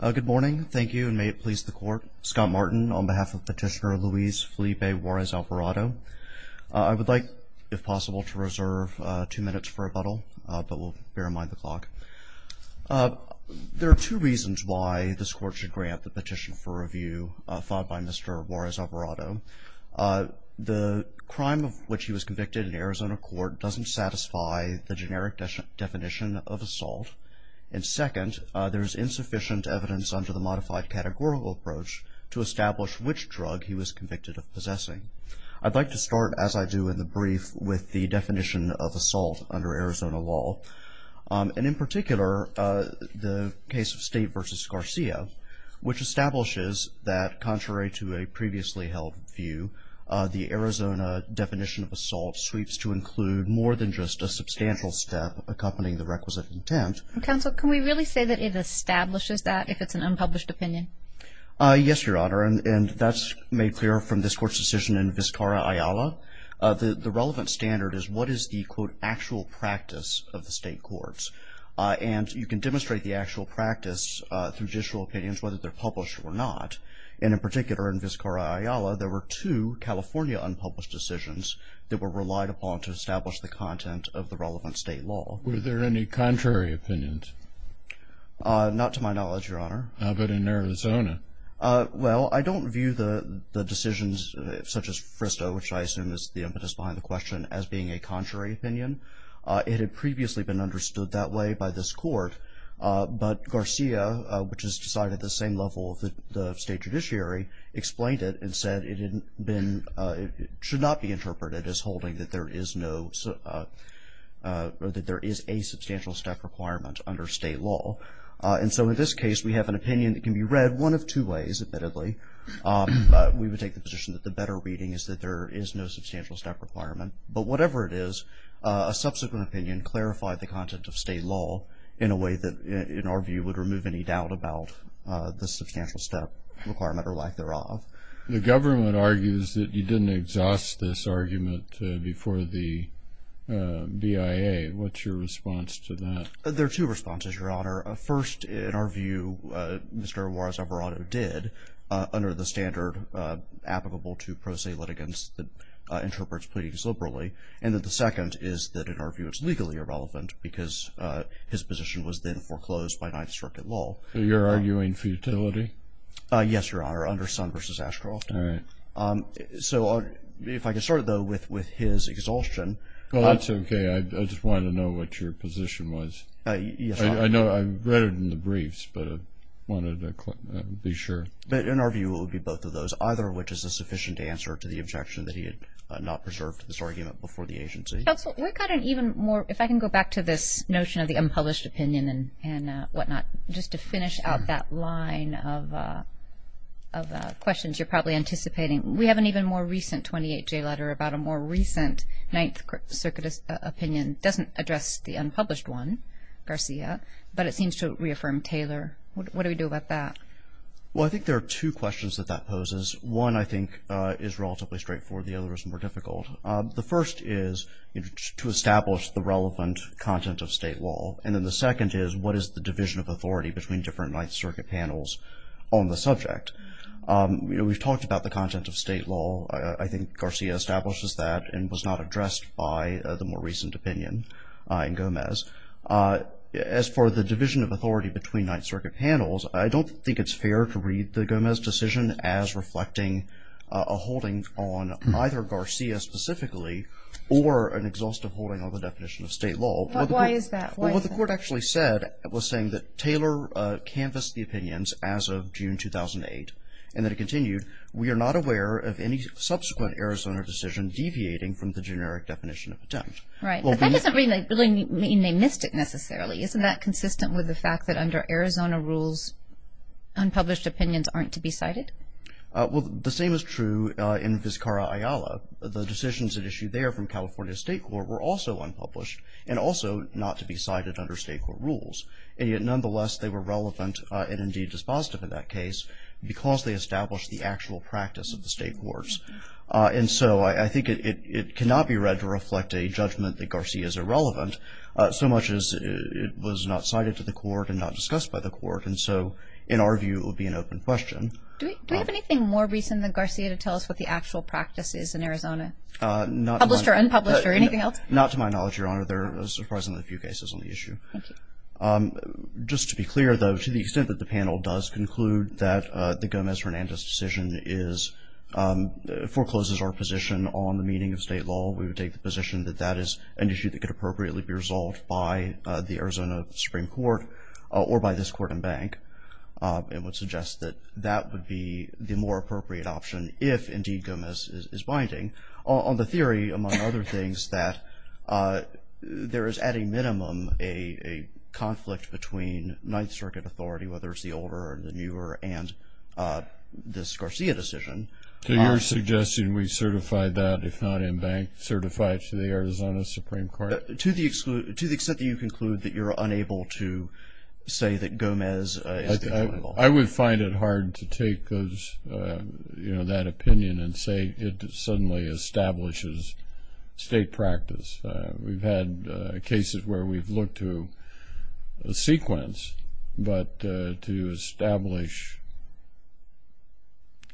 Good morning. Thank you and may it please the court. Scott Martin on behalf of petitioner Luis Felipe Juarez Alvarado. I would like, if possible, to reserve two minutes for rebuttal, but we'll bear in mind the clock. There are two reasons why this court should grant the petition for review filed by Mr. Juarez Alvarado. The crime of which he was convicted in Arizona court doesn't satisfy the sufficient evidence under the modified categorical approach to establish which drug he was convicted of possessing. I'd like to start, as I do in the brief, with the definition of assault under Arizona law and, in particular, the case of State v. Garcia, which establishes that, contrary to a previously held view, the Arizona definition of assault sweeps to include more than just a substantial step accompanying the requisite intent. Counsel, can we really say that it establishes that if it's an unpublished opinion? Yes, Your Honor, and that's made clear from this court's decision in Vizcarra Ayala. The relevant standard is what is the, quote, actual practice of the state courts? And you can demonstrate the actual practice through judicial opinions, whether they're published or not, and, in particular, in Vizcarra Ayala, there were two California unpublished decisions that were relied upon to establish the content of the relevant state law. Were there any contrary opinions? Not to my knowledge, Your Honor. But in Arizona? Well, I don't view the decisions, such as Fristo, which I assume is the impetus behind the question, as being a contrary opinion. It had previously been understood that way by this court, but Garcia, which is decided at the same level of the state judiciary, explained it and said it had been, should not be a substantial step requirement under state law. And so, in this case, we have an opinion that can be read one of two ways, admittedly. We would take the position that the better reading is that there is no substantial step requirement, but whatever it is, a subsequent opinion clarified the content of state law in a way that, in our view, would remove any doubt about the substantial step requirement or lack thereof. The government argues that you didn't exhaust this argument before the BIA. What's your response to that? There are two responses, Your Honor. First, in our view, Mr. Juarez Alvarado did, under the standard applicable to pro se litigants that interprets pleadings liberally. And that the second is that, in our view, it's legally irrelevant because his position was then foreclosed by Ninth Circuit law. So you're arguing futility? Yes, Your Honor, under Sun v. Ashcroft. So if I can start, though, with his exhaustion. Well, that's okay. I just wanted to know what your position was. I know I read it in the briefs, but I wanted to be sure. But in our view, it would be both of those, either of which is a sufficient answer to the objection that he had not preserved this argument before the agency. Counsel, we've got an even more, if I can go back to this notion of the unpublished opinion and whatnot, just to finish out that line of questions you're probably anticipating. We have an even more recent 28J letter about a more recent Ninth Circuit opinion. It doesn't address the unpublished one, Garcia, but it seems to reaffirm Taylor. What do we do about that? Well, I think there are two questions that that poses. One, I think, is relatively straightforward. The other is more difficult. The first is to establish the relevant content of state law. And then the second is, what is the division of authority between Ninth Circuit panels on the subject? We've talked about the content of state law. I think Garcia establishes that and was not addressed by the more recent opinion in Gomez. As for the division of authority between Ninth Circuit panels, I don't think it's fair to read the Gomez decision as reflecting a holding on either Garcia specifically or an exhaustive holding on the definition of state law. But why is that? What the court actually said was that Taylor canvassed the opinions as of June 2008 and that it continued, we are not aware of any subsequent Arizona decision deviating from the generic definition of attempt. Right. That doesn't really mean they missed it necessarily. Isn't that consistent with the fact that under Arizona rules, unpublished opinions aren't to be cited? Well, the same is true in Vizcarra-Ayala. The decisions at issue there from California State Court were also nonetheless they were relevant and indeed dispositive in that case because they established the actual practice of the state courts. And so I think it cannot be read to reflect a judgment that Garcia is irrelevant, so much as it was not cited to the court and not discussed by the court. And so in our view it would be an open question. Do we have anything more recent than Garcia to tell us what the actual practice is in Arizona? Published or unpublished or anything else? Not to my knowledge, Your Honor. There are surprisingly few cases on the issue. Just to be clear, though, to the extent that the panel does conclude that the Gomez-Hernandez decision forecloses our position on the meaning of state law, we would take the position that that is an issue that could appropriately be resolved by the Arizona Supreme Court or by this court and bank and would suggest that that would be the more appropriate option if indeed Gomez is binding. On the theory, among other things, that there is at a minimum a conflict between Ninth Circuit authority, whether it's the older or the newer, and this Garcia decision. So you're suggesting we certify that, if not in bank, certify it to the Arizona Supreme Court? To the extent that you conclude that you're unable to say that Gomez is the accountable. I would find it hard to take those, you know, that opinion and say it suddenly establishes state practice. We've had cases where we've looked to a sequence, but to establish...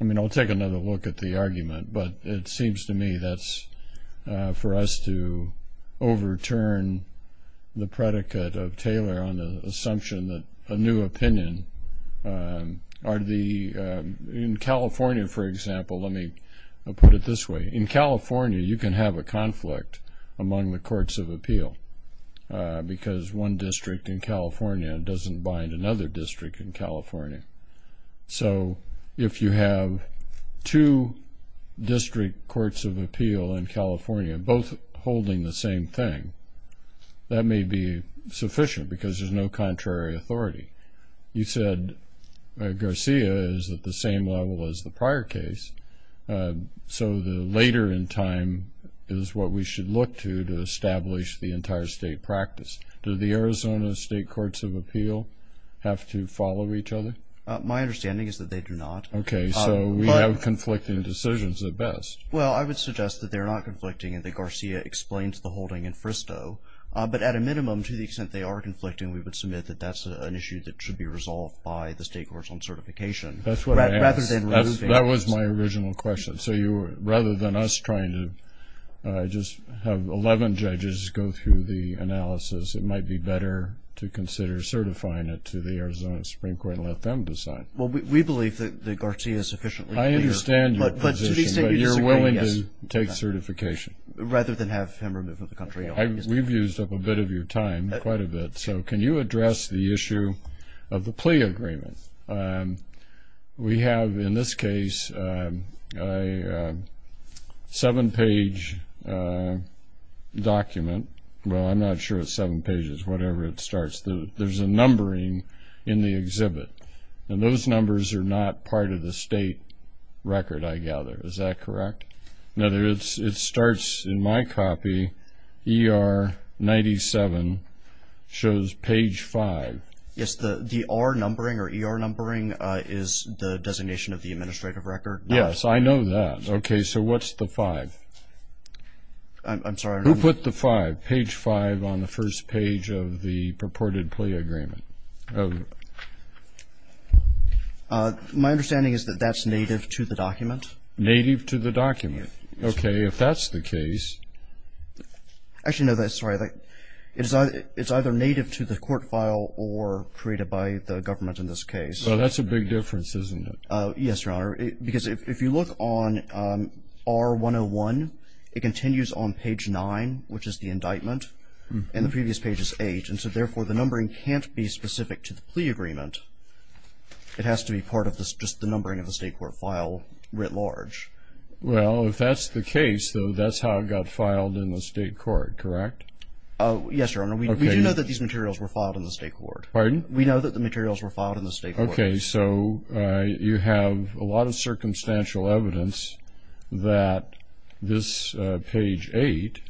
I mean, I'll take another look at the argument, but it seems to me that's for us to overturn the predicate of Taylor on the assumption that a new opinion are the... In California, for example, let me put it this way. In California, you can have a among the courts of appeal, because one district in California doesn't bind another district in California. So if you have two district courts of appeal in California, both holding the same thing, that may be sufficient because there's no contrary authority. You said Garcia is at the same level as the prior case, so the later in time is what we should look to to establish the entire state practice. Do the Arizona State Courts of Appeal have to follow each other? My understanding is that they do not. Okay, so we have conflicting decisions at best. Well, I would suggest that they're not conflicting and that Garcia explains the holding in Fristo, but at a minimum, to the extent they are conflicting, we would submit that that's an issue that should be resolved by the State Courts on other than us trying to just have 11 judges go through the analysis. It might be better to consider certifying it to the Arizona Supreme Court and let them decide. Well, we believe that Garcia is sufficiently clear. I understand your position, but you're willing to take certification. Rather than have him removed from the country. We've used up a bit of your time, quite a bit, so can you address the issue of the plea agreement? We have, in this case, a seven-page document. Well, I'm not sure it's seven pages, whatever it starts. There's a numbering in the exhibit and those numbers are not part of the state record, I gather. Is that correct? In other words, it starts, in my copy, ER 97, shows page 5. Yes, the R numbering or ER numbering is the designation of the administrative record. Yes, I know that. Okay, so what's the 5? I'm sorry. Who put the 5, page 5, on the first page of the purported plea agreement? My understanding is that that's native to the document. Native to the document. Okay, if that's the case... Actually, no, that's right. It's either native to the court file or created by the government in this case. Well, that's a big difference, isn't it? Yes, Your Honor, because if you look on R101, it continues on page 9, which is the indictment, and the previous page is 8. And so, therefore, the numbering can't be specific to the plea agreement. It has to be part of this, just the numbering of the state court file, writ large. Well, if that's the case, though, that's how it got filed in the state court, correct? Oh, yes, Your Honor. We do know that these materials were filed in the state court. Pardon? We know that the materials were filed in the state court. Okay, so you have a lot of circumstantial evidence that this page 8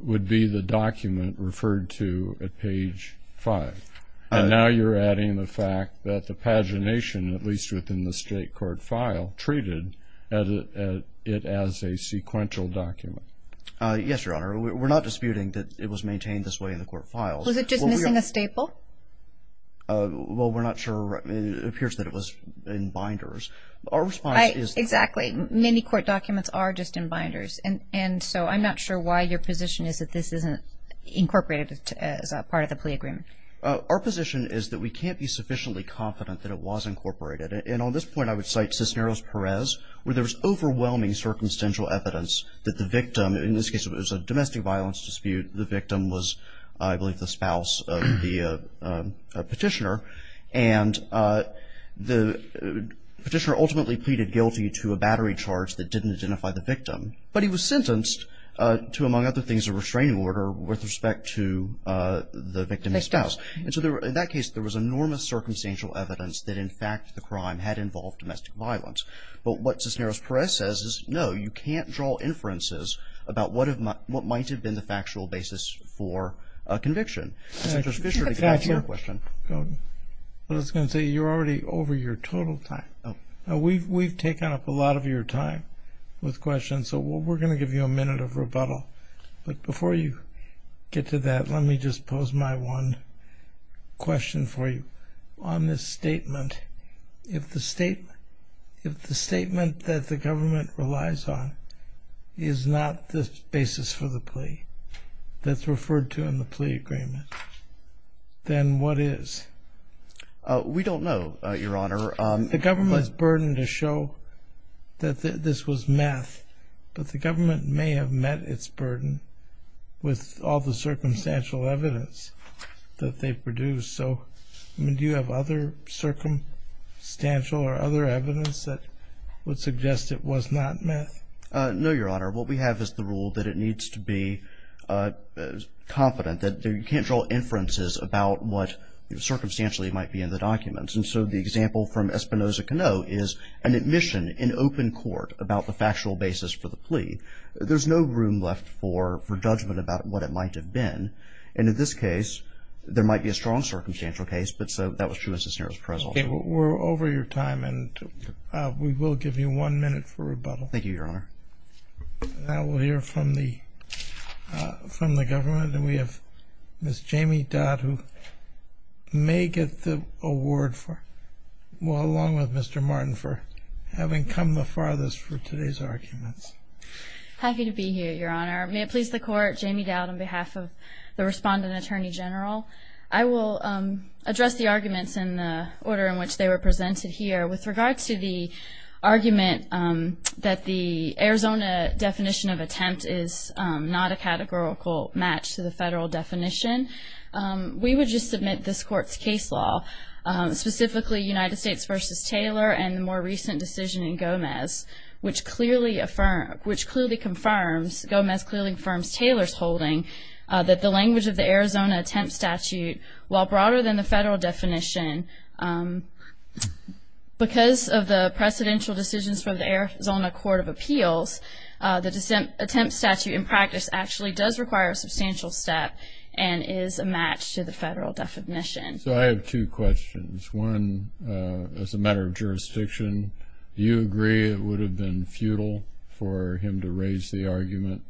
would be the document referred to at page 5, and now you're adding the fact that the pagination, at least within the state court file, treated it as a sequential document. Yes, Your Honor. We're not disputing that it was maintained this way in the court files. Was it just missing a staple? Well, we're not sure. It appears that it was in binders. Our response is... Exactly. Many court documents are just in binders, and so I'm not sure why your position is that this isn't incorporated as a part of the plea agreement. Our position is that we can't be sufficiently confident that it was incorporated, and on this point I would cite Cisneros-Perez, where there was overwhelming circumstantial evidence that the victim, in this case it was a domestic violence dispute, the victim was, I believe, the spouse of the petitioner, and the petitioner ultimately pleaded guilty to a battery charge that didn't identify the victim, but he was sentenced to, among other things, a victim's spouse. And so, in that case, there was enormous circumstantial evidence that, in fact, the crime had involved domestic violence. But what Cisneros-Perez says is, no, you can't draw inferences about what might have been the factual basis for a conviction. Judge Fischer, to get back to your question. I was going to say, you're already over your total time. We've taken up a lot of your time with questions, so we're going to give you a minute of rebuttal, but before you get to that, let me just pose my one question for you. On this statement, if the statement that the government relies on is not the basis for the plea that's referred to in the plea agreement, then what is? We don't know, Your Honor. The government's burden to show that this was meth, but the government may have met its burden with all the circumstantial evidence that they produced. So, do you have other circumstantial or other evidence that would suggest it was not meth? No, Your Honor. What we have is the rule that it needs to be confident, that you can't draw inferences about what, circumstantially, might be in the documents. And so, the example from Espinoza-Cano is an admission in open court about the factual basis for the plea. There's no room left for judgment about what it might have been, and in this case, there might be a strong circumstantial case, but so, that was true as a scenario as a result. Okay, we're over your time, and we will give you one minute for rebuttal. Thank you, Your Honor. Now, we'll hear from the government, and we have Miss Jamie Dodd, who may get the floor. Thank you, Mr. Martin, for having come the farthest for today's arguments. Happy to be here, Your Honor. May it please the Court, Jamie Dodd on behalf of the Respondent Attorney General. I will address the arguments in the order in which they were presented here. With regard to the argument that the Arizona definition of attempt is not a categorical match to the federal definition, we would just submit this Court's case law, specifically United and the more recent decision in Gomez, which clearly confirms, Gomez clearly confirms Taylor's holding, that the language of the Arizona attempt statute, while broader than the federal definition, because of the precedential decisions from the Arizona Court of Appeals, the attempt statute in practice actually does require a substantial step and is a match to the federal definition. So, I have two questions. One, as a matter of jurisdiction, do you agree it would have been futile for him to raise the argument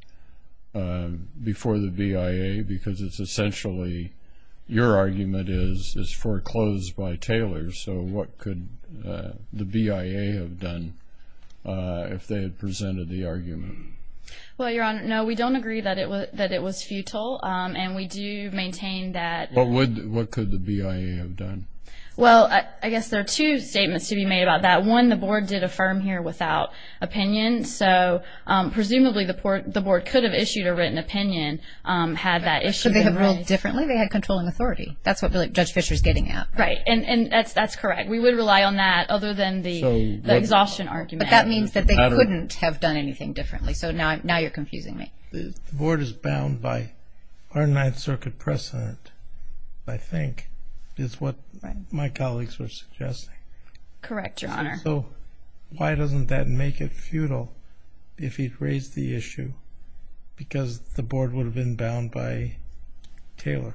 before the BIA, because it's essentially, your argument is foreclosed by Taylor. So, what could the BIA have done if they had presented the argument? Well, Your Honor, no, we don't agree that it was that it was futile, and we do maintain that... What could the BIA have done? Well, I guess there are two statements to be made about that. One, the Board did affirm here without opinion, so, presumably, the Board could have issued a written opinion, had that issue... Could they have ruled differently? They had controlling authority. That's what Judge Fisher's getting at. Right, and that's correct. We would rely on that, other than the exhaustion argument. But that means that they couldn't have done anything differently, so now you're confusing me. The Board is bound by our Ninth Amendment. Correct, Your Honor. So, why doesn't that make it futile if he'd raised the issue? Because the Board would have been bound by Taylor.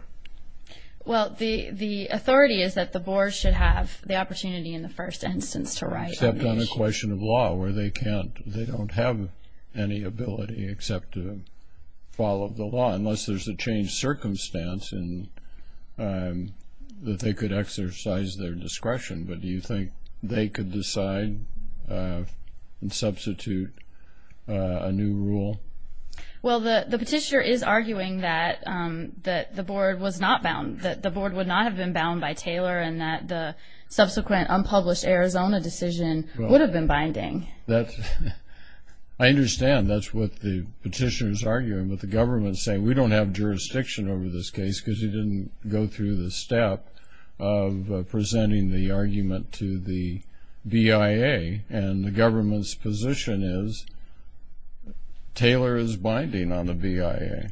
Well, the authority is that the Board should have the opportunity, in the first instance, to write an issue. Except on a question of law, where they can't, they don't have any ability except to follow the law, unless there's a changed circumstance, and that they could exercise their discretion. But do you think they could decide and substitute a new rule? Well, the Petitioner is arguing that the Board was not bound, that the Board would not have been bound by Taylor, and that the subsequent unpublished Arizona decision would have been binding. I understand. That's what the Petitioner is arguing, but the government is saying, we don't have jurisdiction over this case, because he didn't go through the step of presenting the argument to the BIA, and the government's position is, Taylor is binding on the BIA.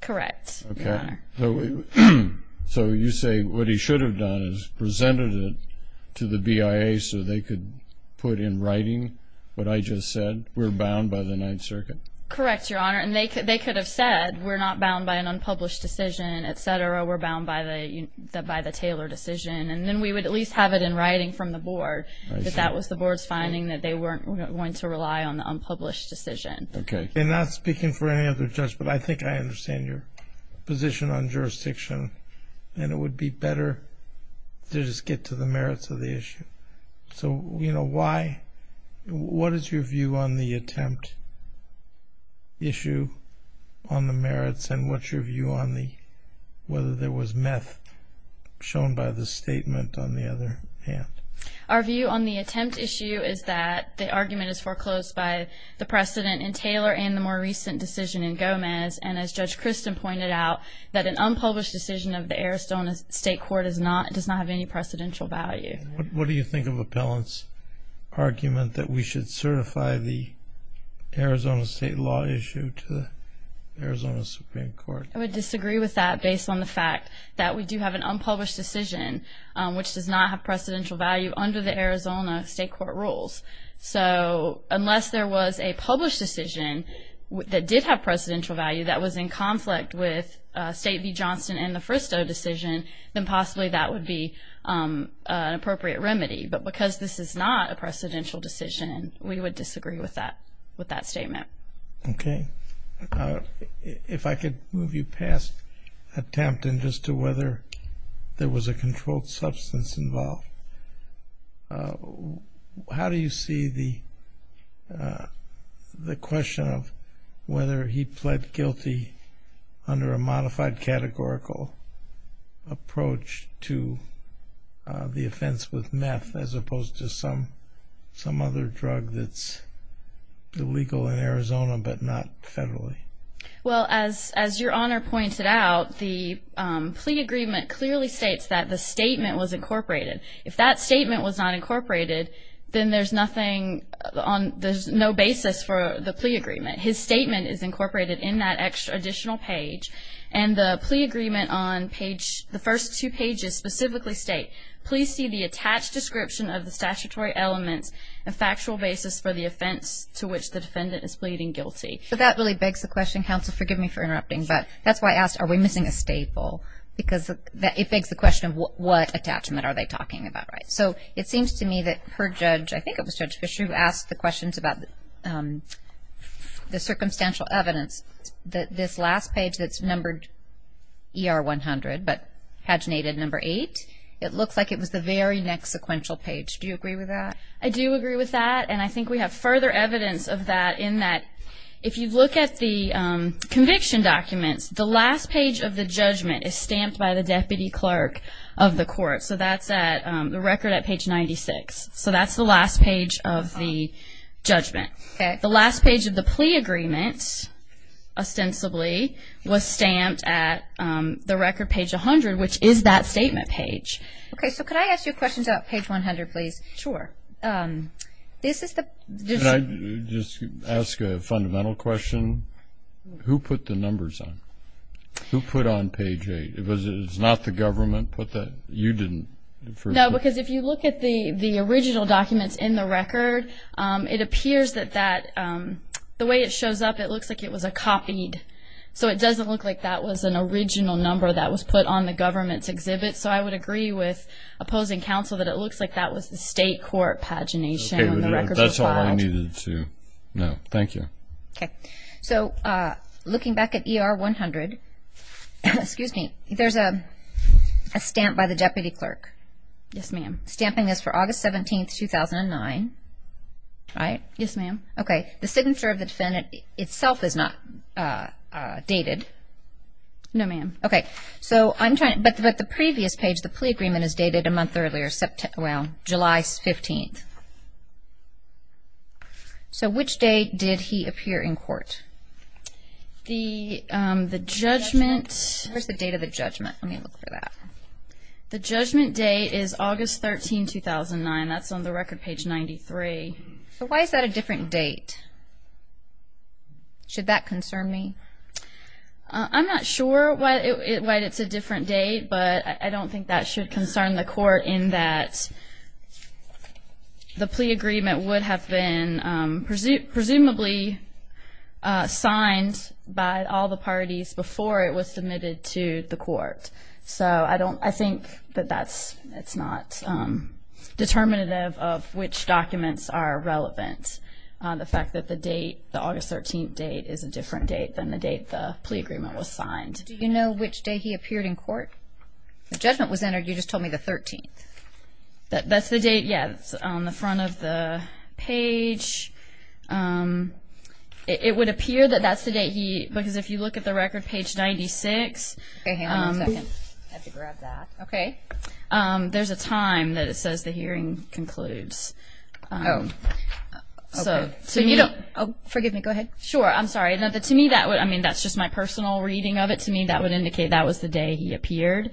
Correct, Your Honor. So, you say what he should have done is presented it to the BIA so they could put in writing what I just said, we're bound by the Ninth Circuit? Correct, Your Honor, and they could have said, we're not bound by an unpublished decision, etc., we're bound by the Taylor decision, and then we would at least have it in writing from the Board, that that was the Board's finding, that they weren't going to rely on the unpublished decision. Okay, and not speaking for any other judge, but I think I understand your position on jurisdiction, and it would be better to just get to the merits of the issue. So, you know, why, what is your view on the attempt issue on the merits, and what's your view on the, whether there was meth shown by the statement on the other hand? Our view on the attempt issue is that the argument is foreclosed by the precedent in Taylor and the more recent decision in Gomez, and as Judge Christin pointed out, that an unpublished decision of the Aristotle State Court does not have any precedential value. What do you think of Appellant's argument that we should certify the Arizona State law issue to the Arizona Supreme Court? I would disagree with that based on the fact that we do have an unpublished decision, which does not have precedential value under the Arizona State Court rules. So, unless there was a published decision that did have precedential value that was in conflict with State v. Johnston and the Fristoe decision, then possibly that would be an appropriate remedy, but because this is not a precedential decision, we would disagree with that, with that statement. Okay. If I could move you past attempt and just to whether there was a controlled substance involved. How do you see the, the question of whether he pled guilty under a modified categorical approach to the offense with meth, as opposed to some, some other drug that's illegal in Arizona, but not federally? Well, as, as your Honor pointed out, the plea agreement clearly states that the statement was incorporated. If that statement was not incorporated, then there's nothing on, there's no basis for the plea agreement. His statement is incorporated in that extra additional page, and the plea agreement on page, the first two pages specifically state, please see the attached description of the statutory elements and factual basis for the offense to which the defendant is pleading guilty. But that really begs the question, counsel, forgive me for interrupting, but that's why I asked, are we missing a staple? Because that, it begs the question of what attachment are they talking about, right? So, it seems to me that her judge, I think it was Judge Fisher, who asked the questions about the circumstantial evidence, that this last page that's numbered ER 100, but paginated number eight, it looks like it was the very next sequential page. Do you agree with that? I do agree with that, and I think we have further evidence of that, in that, if you look at the conviction documents, the last page of the judgment is stamped by the deputy clerk of the court. So, that's at, the record at page 96. So, that's the last page of the agreement, ostensibly, was stamped at the record page 100, which is that statement page. Okay, so could I ask you a question about page 100, please? Sure. This is the... Can I just ask a fundamental question? Who put the numbers on? Who put on page eight? It was, it's not the government put that? You didn't? No, because if you look at the number that shows up, it looks like it was a copied. So, it doesn't look like that was an original number that was put on the government's exhibit. So, I would agree with opposing counsel that it looks like that was the state court pagination, and the records were filed. Okay, that's all I needed to know. Thank you. Okay. So, looking back at ER 100, excuse me, there's a stamp by the deputy clerk. Yes, ma'am. Stamping is for August 17, 2009. Right? Yes, ma'am. Okay. The signature of the defendant itself is not dated. No, ma'am. Okay. So, I'm trying, but the previous page, the plea agreement, is dated a month earlier, September, well, July 15th. So, which day did he appear in court? The judgment... Where's the date of the judgment? Let me look for that. The judgment date is August 13, 2009. That's on the record page 93. So, why is that a different date? Should that concern me? I'm not sure why it's a different date, but I don't think that should concern the court in that the plea agreement would have been presumably signed by all the parties before it was submitted to the court. So, I think that that's not determinative of which documents are relevant. The fact that the date, the August 13th date, is a different date than the date the plea agreement was signed. Do you know which day he appeared in court? The judgment was entered, you just told me the 13th. That's the date, yes, on the front of the page. It would appear that that's the date he, because if you look at the record page 96, there's a time that it says the hearing concludes. Oh, forgive me, go ahead. Sure, I'm sorry. To me, that would, I mean, that's just my personal reading of it. To me, that would indicate that was the day he appeared,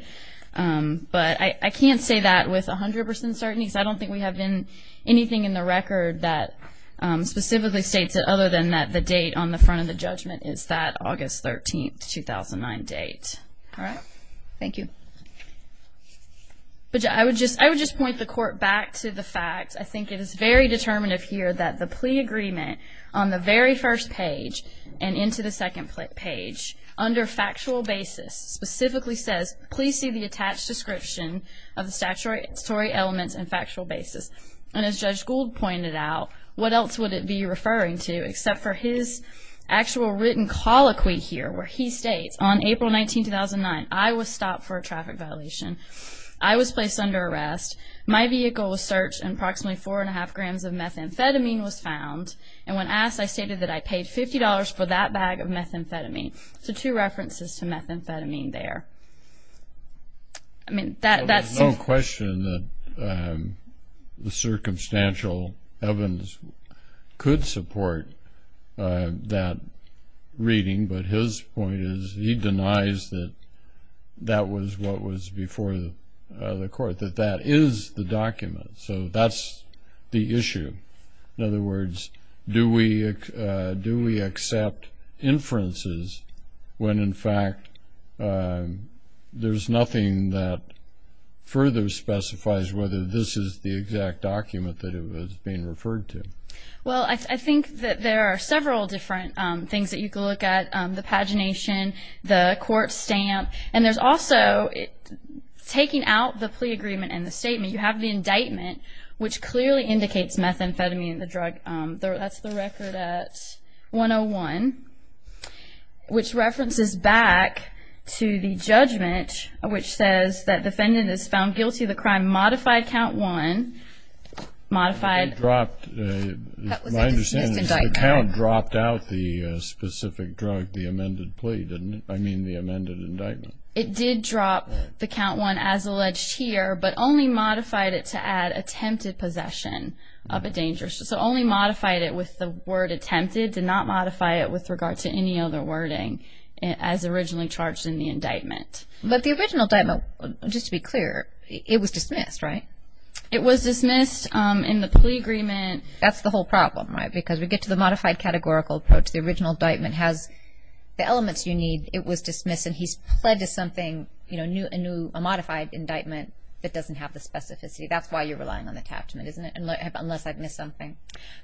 but I can't say that with a hundred percent certainty. I don't think we have been anything in the record that specifically states it other than that the date on the front of the judgment is that August 13th, 2009 date. All right, thank you. But I would just, I would just point the court back to the fact, I think it is very determinative here, that the plea agreement on the very first page and into the second page, under factual basis, specifically says, please see the attached description of the statutory elements and factual basis. And as Judge is actual written colloquy here, where he states, on April 19, 2009, I was stopped for a traffic violation. I was placed under arrest. My vehicle was searched, and approximately four and a half grams of methamphetamine was found. And when asked, I stated that I paid $50 for that bag of methamphetamine. So two references to methamphetamine there. I mean, that's... No question that the circumstantial evidence could support that reading, but his point is he denies that that was what was before the court, that that is the document. So that's the issue. In other words, do we accept inferences when in fact there's nothing that further specifies whether this is the exact document that it was being referred to? Well, I think that there are several different things that you can look at. The pagination, the court stamp, and there's also, taking out the plea agreement and the statement, you have the indictment, which clearly indicates methamphetamine in the drug. That's the record at 101, which references back to the judgment, which says that defendant is found guilty of the crime. Modified count one, modified... It dropped... My understanding is the count dropped out the specific drug, the amended plea, didn't it? I mean, the amended indictment. It did drop the count one as alleged here, but only modified it to add attempted possession of a dangerous... So only modified it with the word attempted, did not modify it with regard to any other wording as originally charged in the indictment. But the original indictment, just to be clear, it was dismissed, right? It was dismissed in the plea agreement. That's the whole problem, right? Because we get to the modified categorical approach. The original indictment has the elements you need. It was dismissed and he's pled to something, you know, a modified indictment that doesn't have the specificity. That's why you're relying on the attachment, isn't it? Unless I've missed something.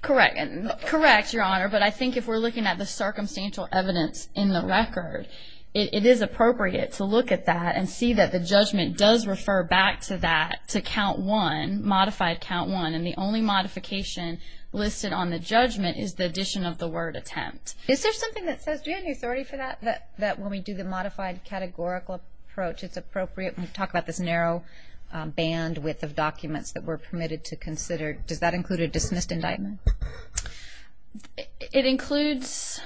Correct. Correct, Your Honor, but I think if we're looking at the circumstantial evidence in the record, it is appropriate to look at that and see that the judgment does refer back to that, to count one, modified count one, and the only modification listed on the judgment is the addition of the word attempt. Is there something that says, do you have any authority for that, that when we do the modified categorical approach, it's appropriate when we talk about this narrow bandwidth of documents that were permitted to consider? Does that include a dismissed indictment? It includes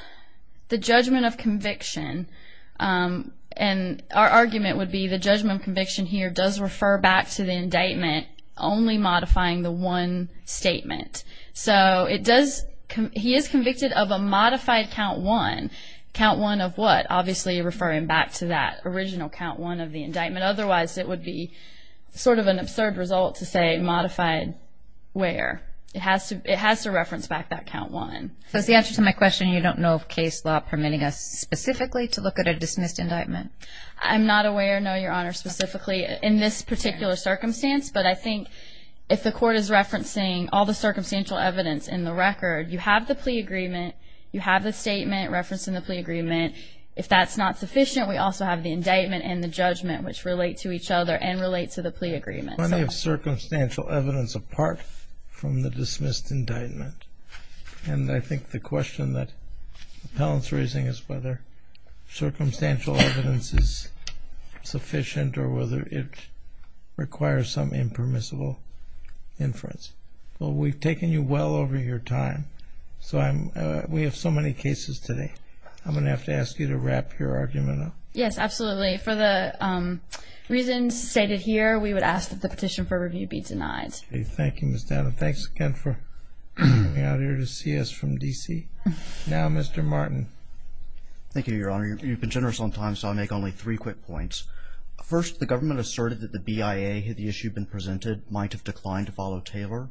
the judgment of conviction, and our argument would be the judgment of conviction here does refer back to the indictment, only modifying the one statement. So it does, he is convicted of a modified count one. Count one of what? Obviously referring back to that original count one of the indictment. Otherwise, it would be sort of an absurd result to say modified where? It has to reference back that count one. So the answer to my question, you don't know of case law permitting us specifically to look at a dismissed indictment? I'm not aware, no, Your Honor, specifically in this particular circumstance, but I think if the court is referencing all the circumstantial evidence in the record, you have the plea agreement, you have the statement referencing the plea agreement. If that's not sufficient, we also have the indictment and the judgment, which relate to each other and relate to the plea agreement. Plenty of circumstantial evidence apart from the dismissed indictment, and I think the question that Appellant's raising is whether circumstantial evidence is sufficient or whether it requires some impermissible inference. Well, we've taken you well over your time, so I'm, we have so many cases today. I'm gonna have to ask you to wrap your argument up. Yes, absolutely. For the rest of the petition for review be denied. Thank you, Ms. Downer. Thanks again for coming out here to see us from D.C. Now, Mr. Martin. Thank you, Your Honor. You've been generous on time, so I'll make only three quick points. First, the government asserted that the BIA, had the issue been presented, might have declined to follow Taylor.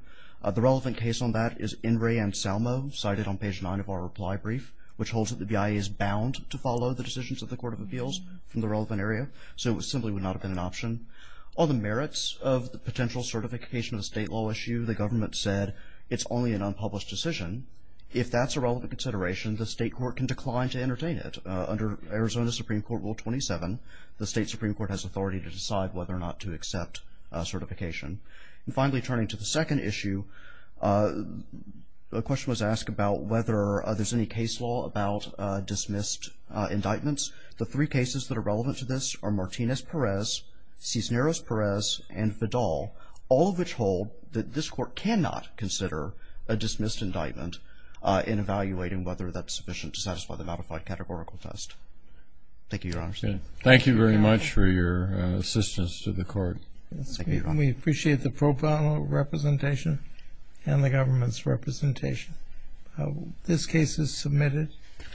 The relevant case on that is In re and Salmo, cited on page 9 of our reply brief, which holds that the BIA is bound to follow the decisions of the Court of Appeals from the relevant area, so it simply would not have been an issue. On the merits of the potential certification of the state law issue, the government said it's only an unpublished decision. If that's a relevant consideration, the state court can decline to entertain it. Under Arizona Supreme Court Rule 27, the state Supreme Court has authority to decide whether or not to accept certification. And finally, turning to the second issue, a question was asked about whether there's any case law about dismissed indictments. The three cases that are relevant to this are Martinez-Perez, Cisneros-Perez, and Fidal, all of which hold that this court cannot consider a dismissed indictment in evaluating whether that's sufficient to satisfy the modified categorical test. Thank you, Your Honor. Thank you very much for your assistance to the court. We appreciate the pro bono representation and the government's representation. This case is submitted.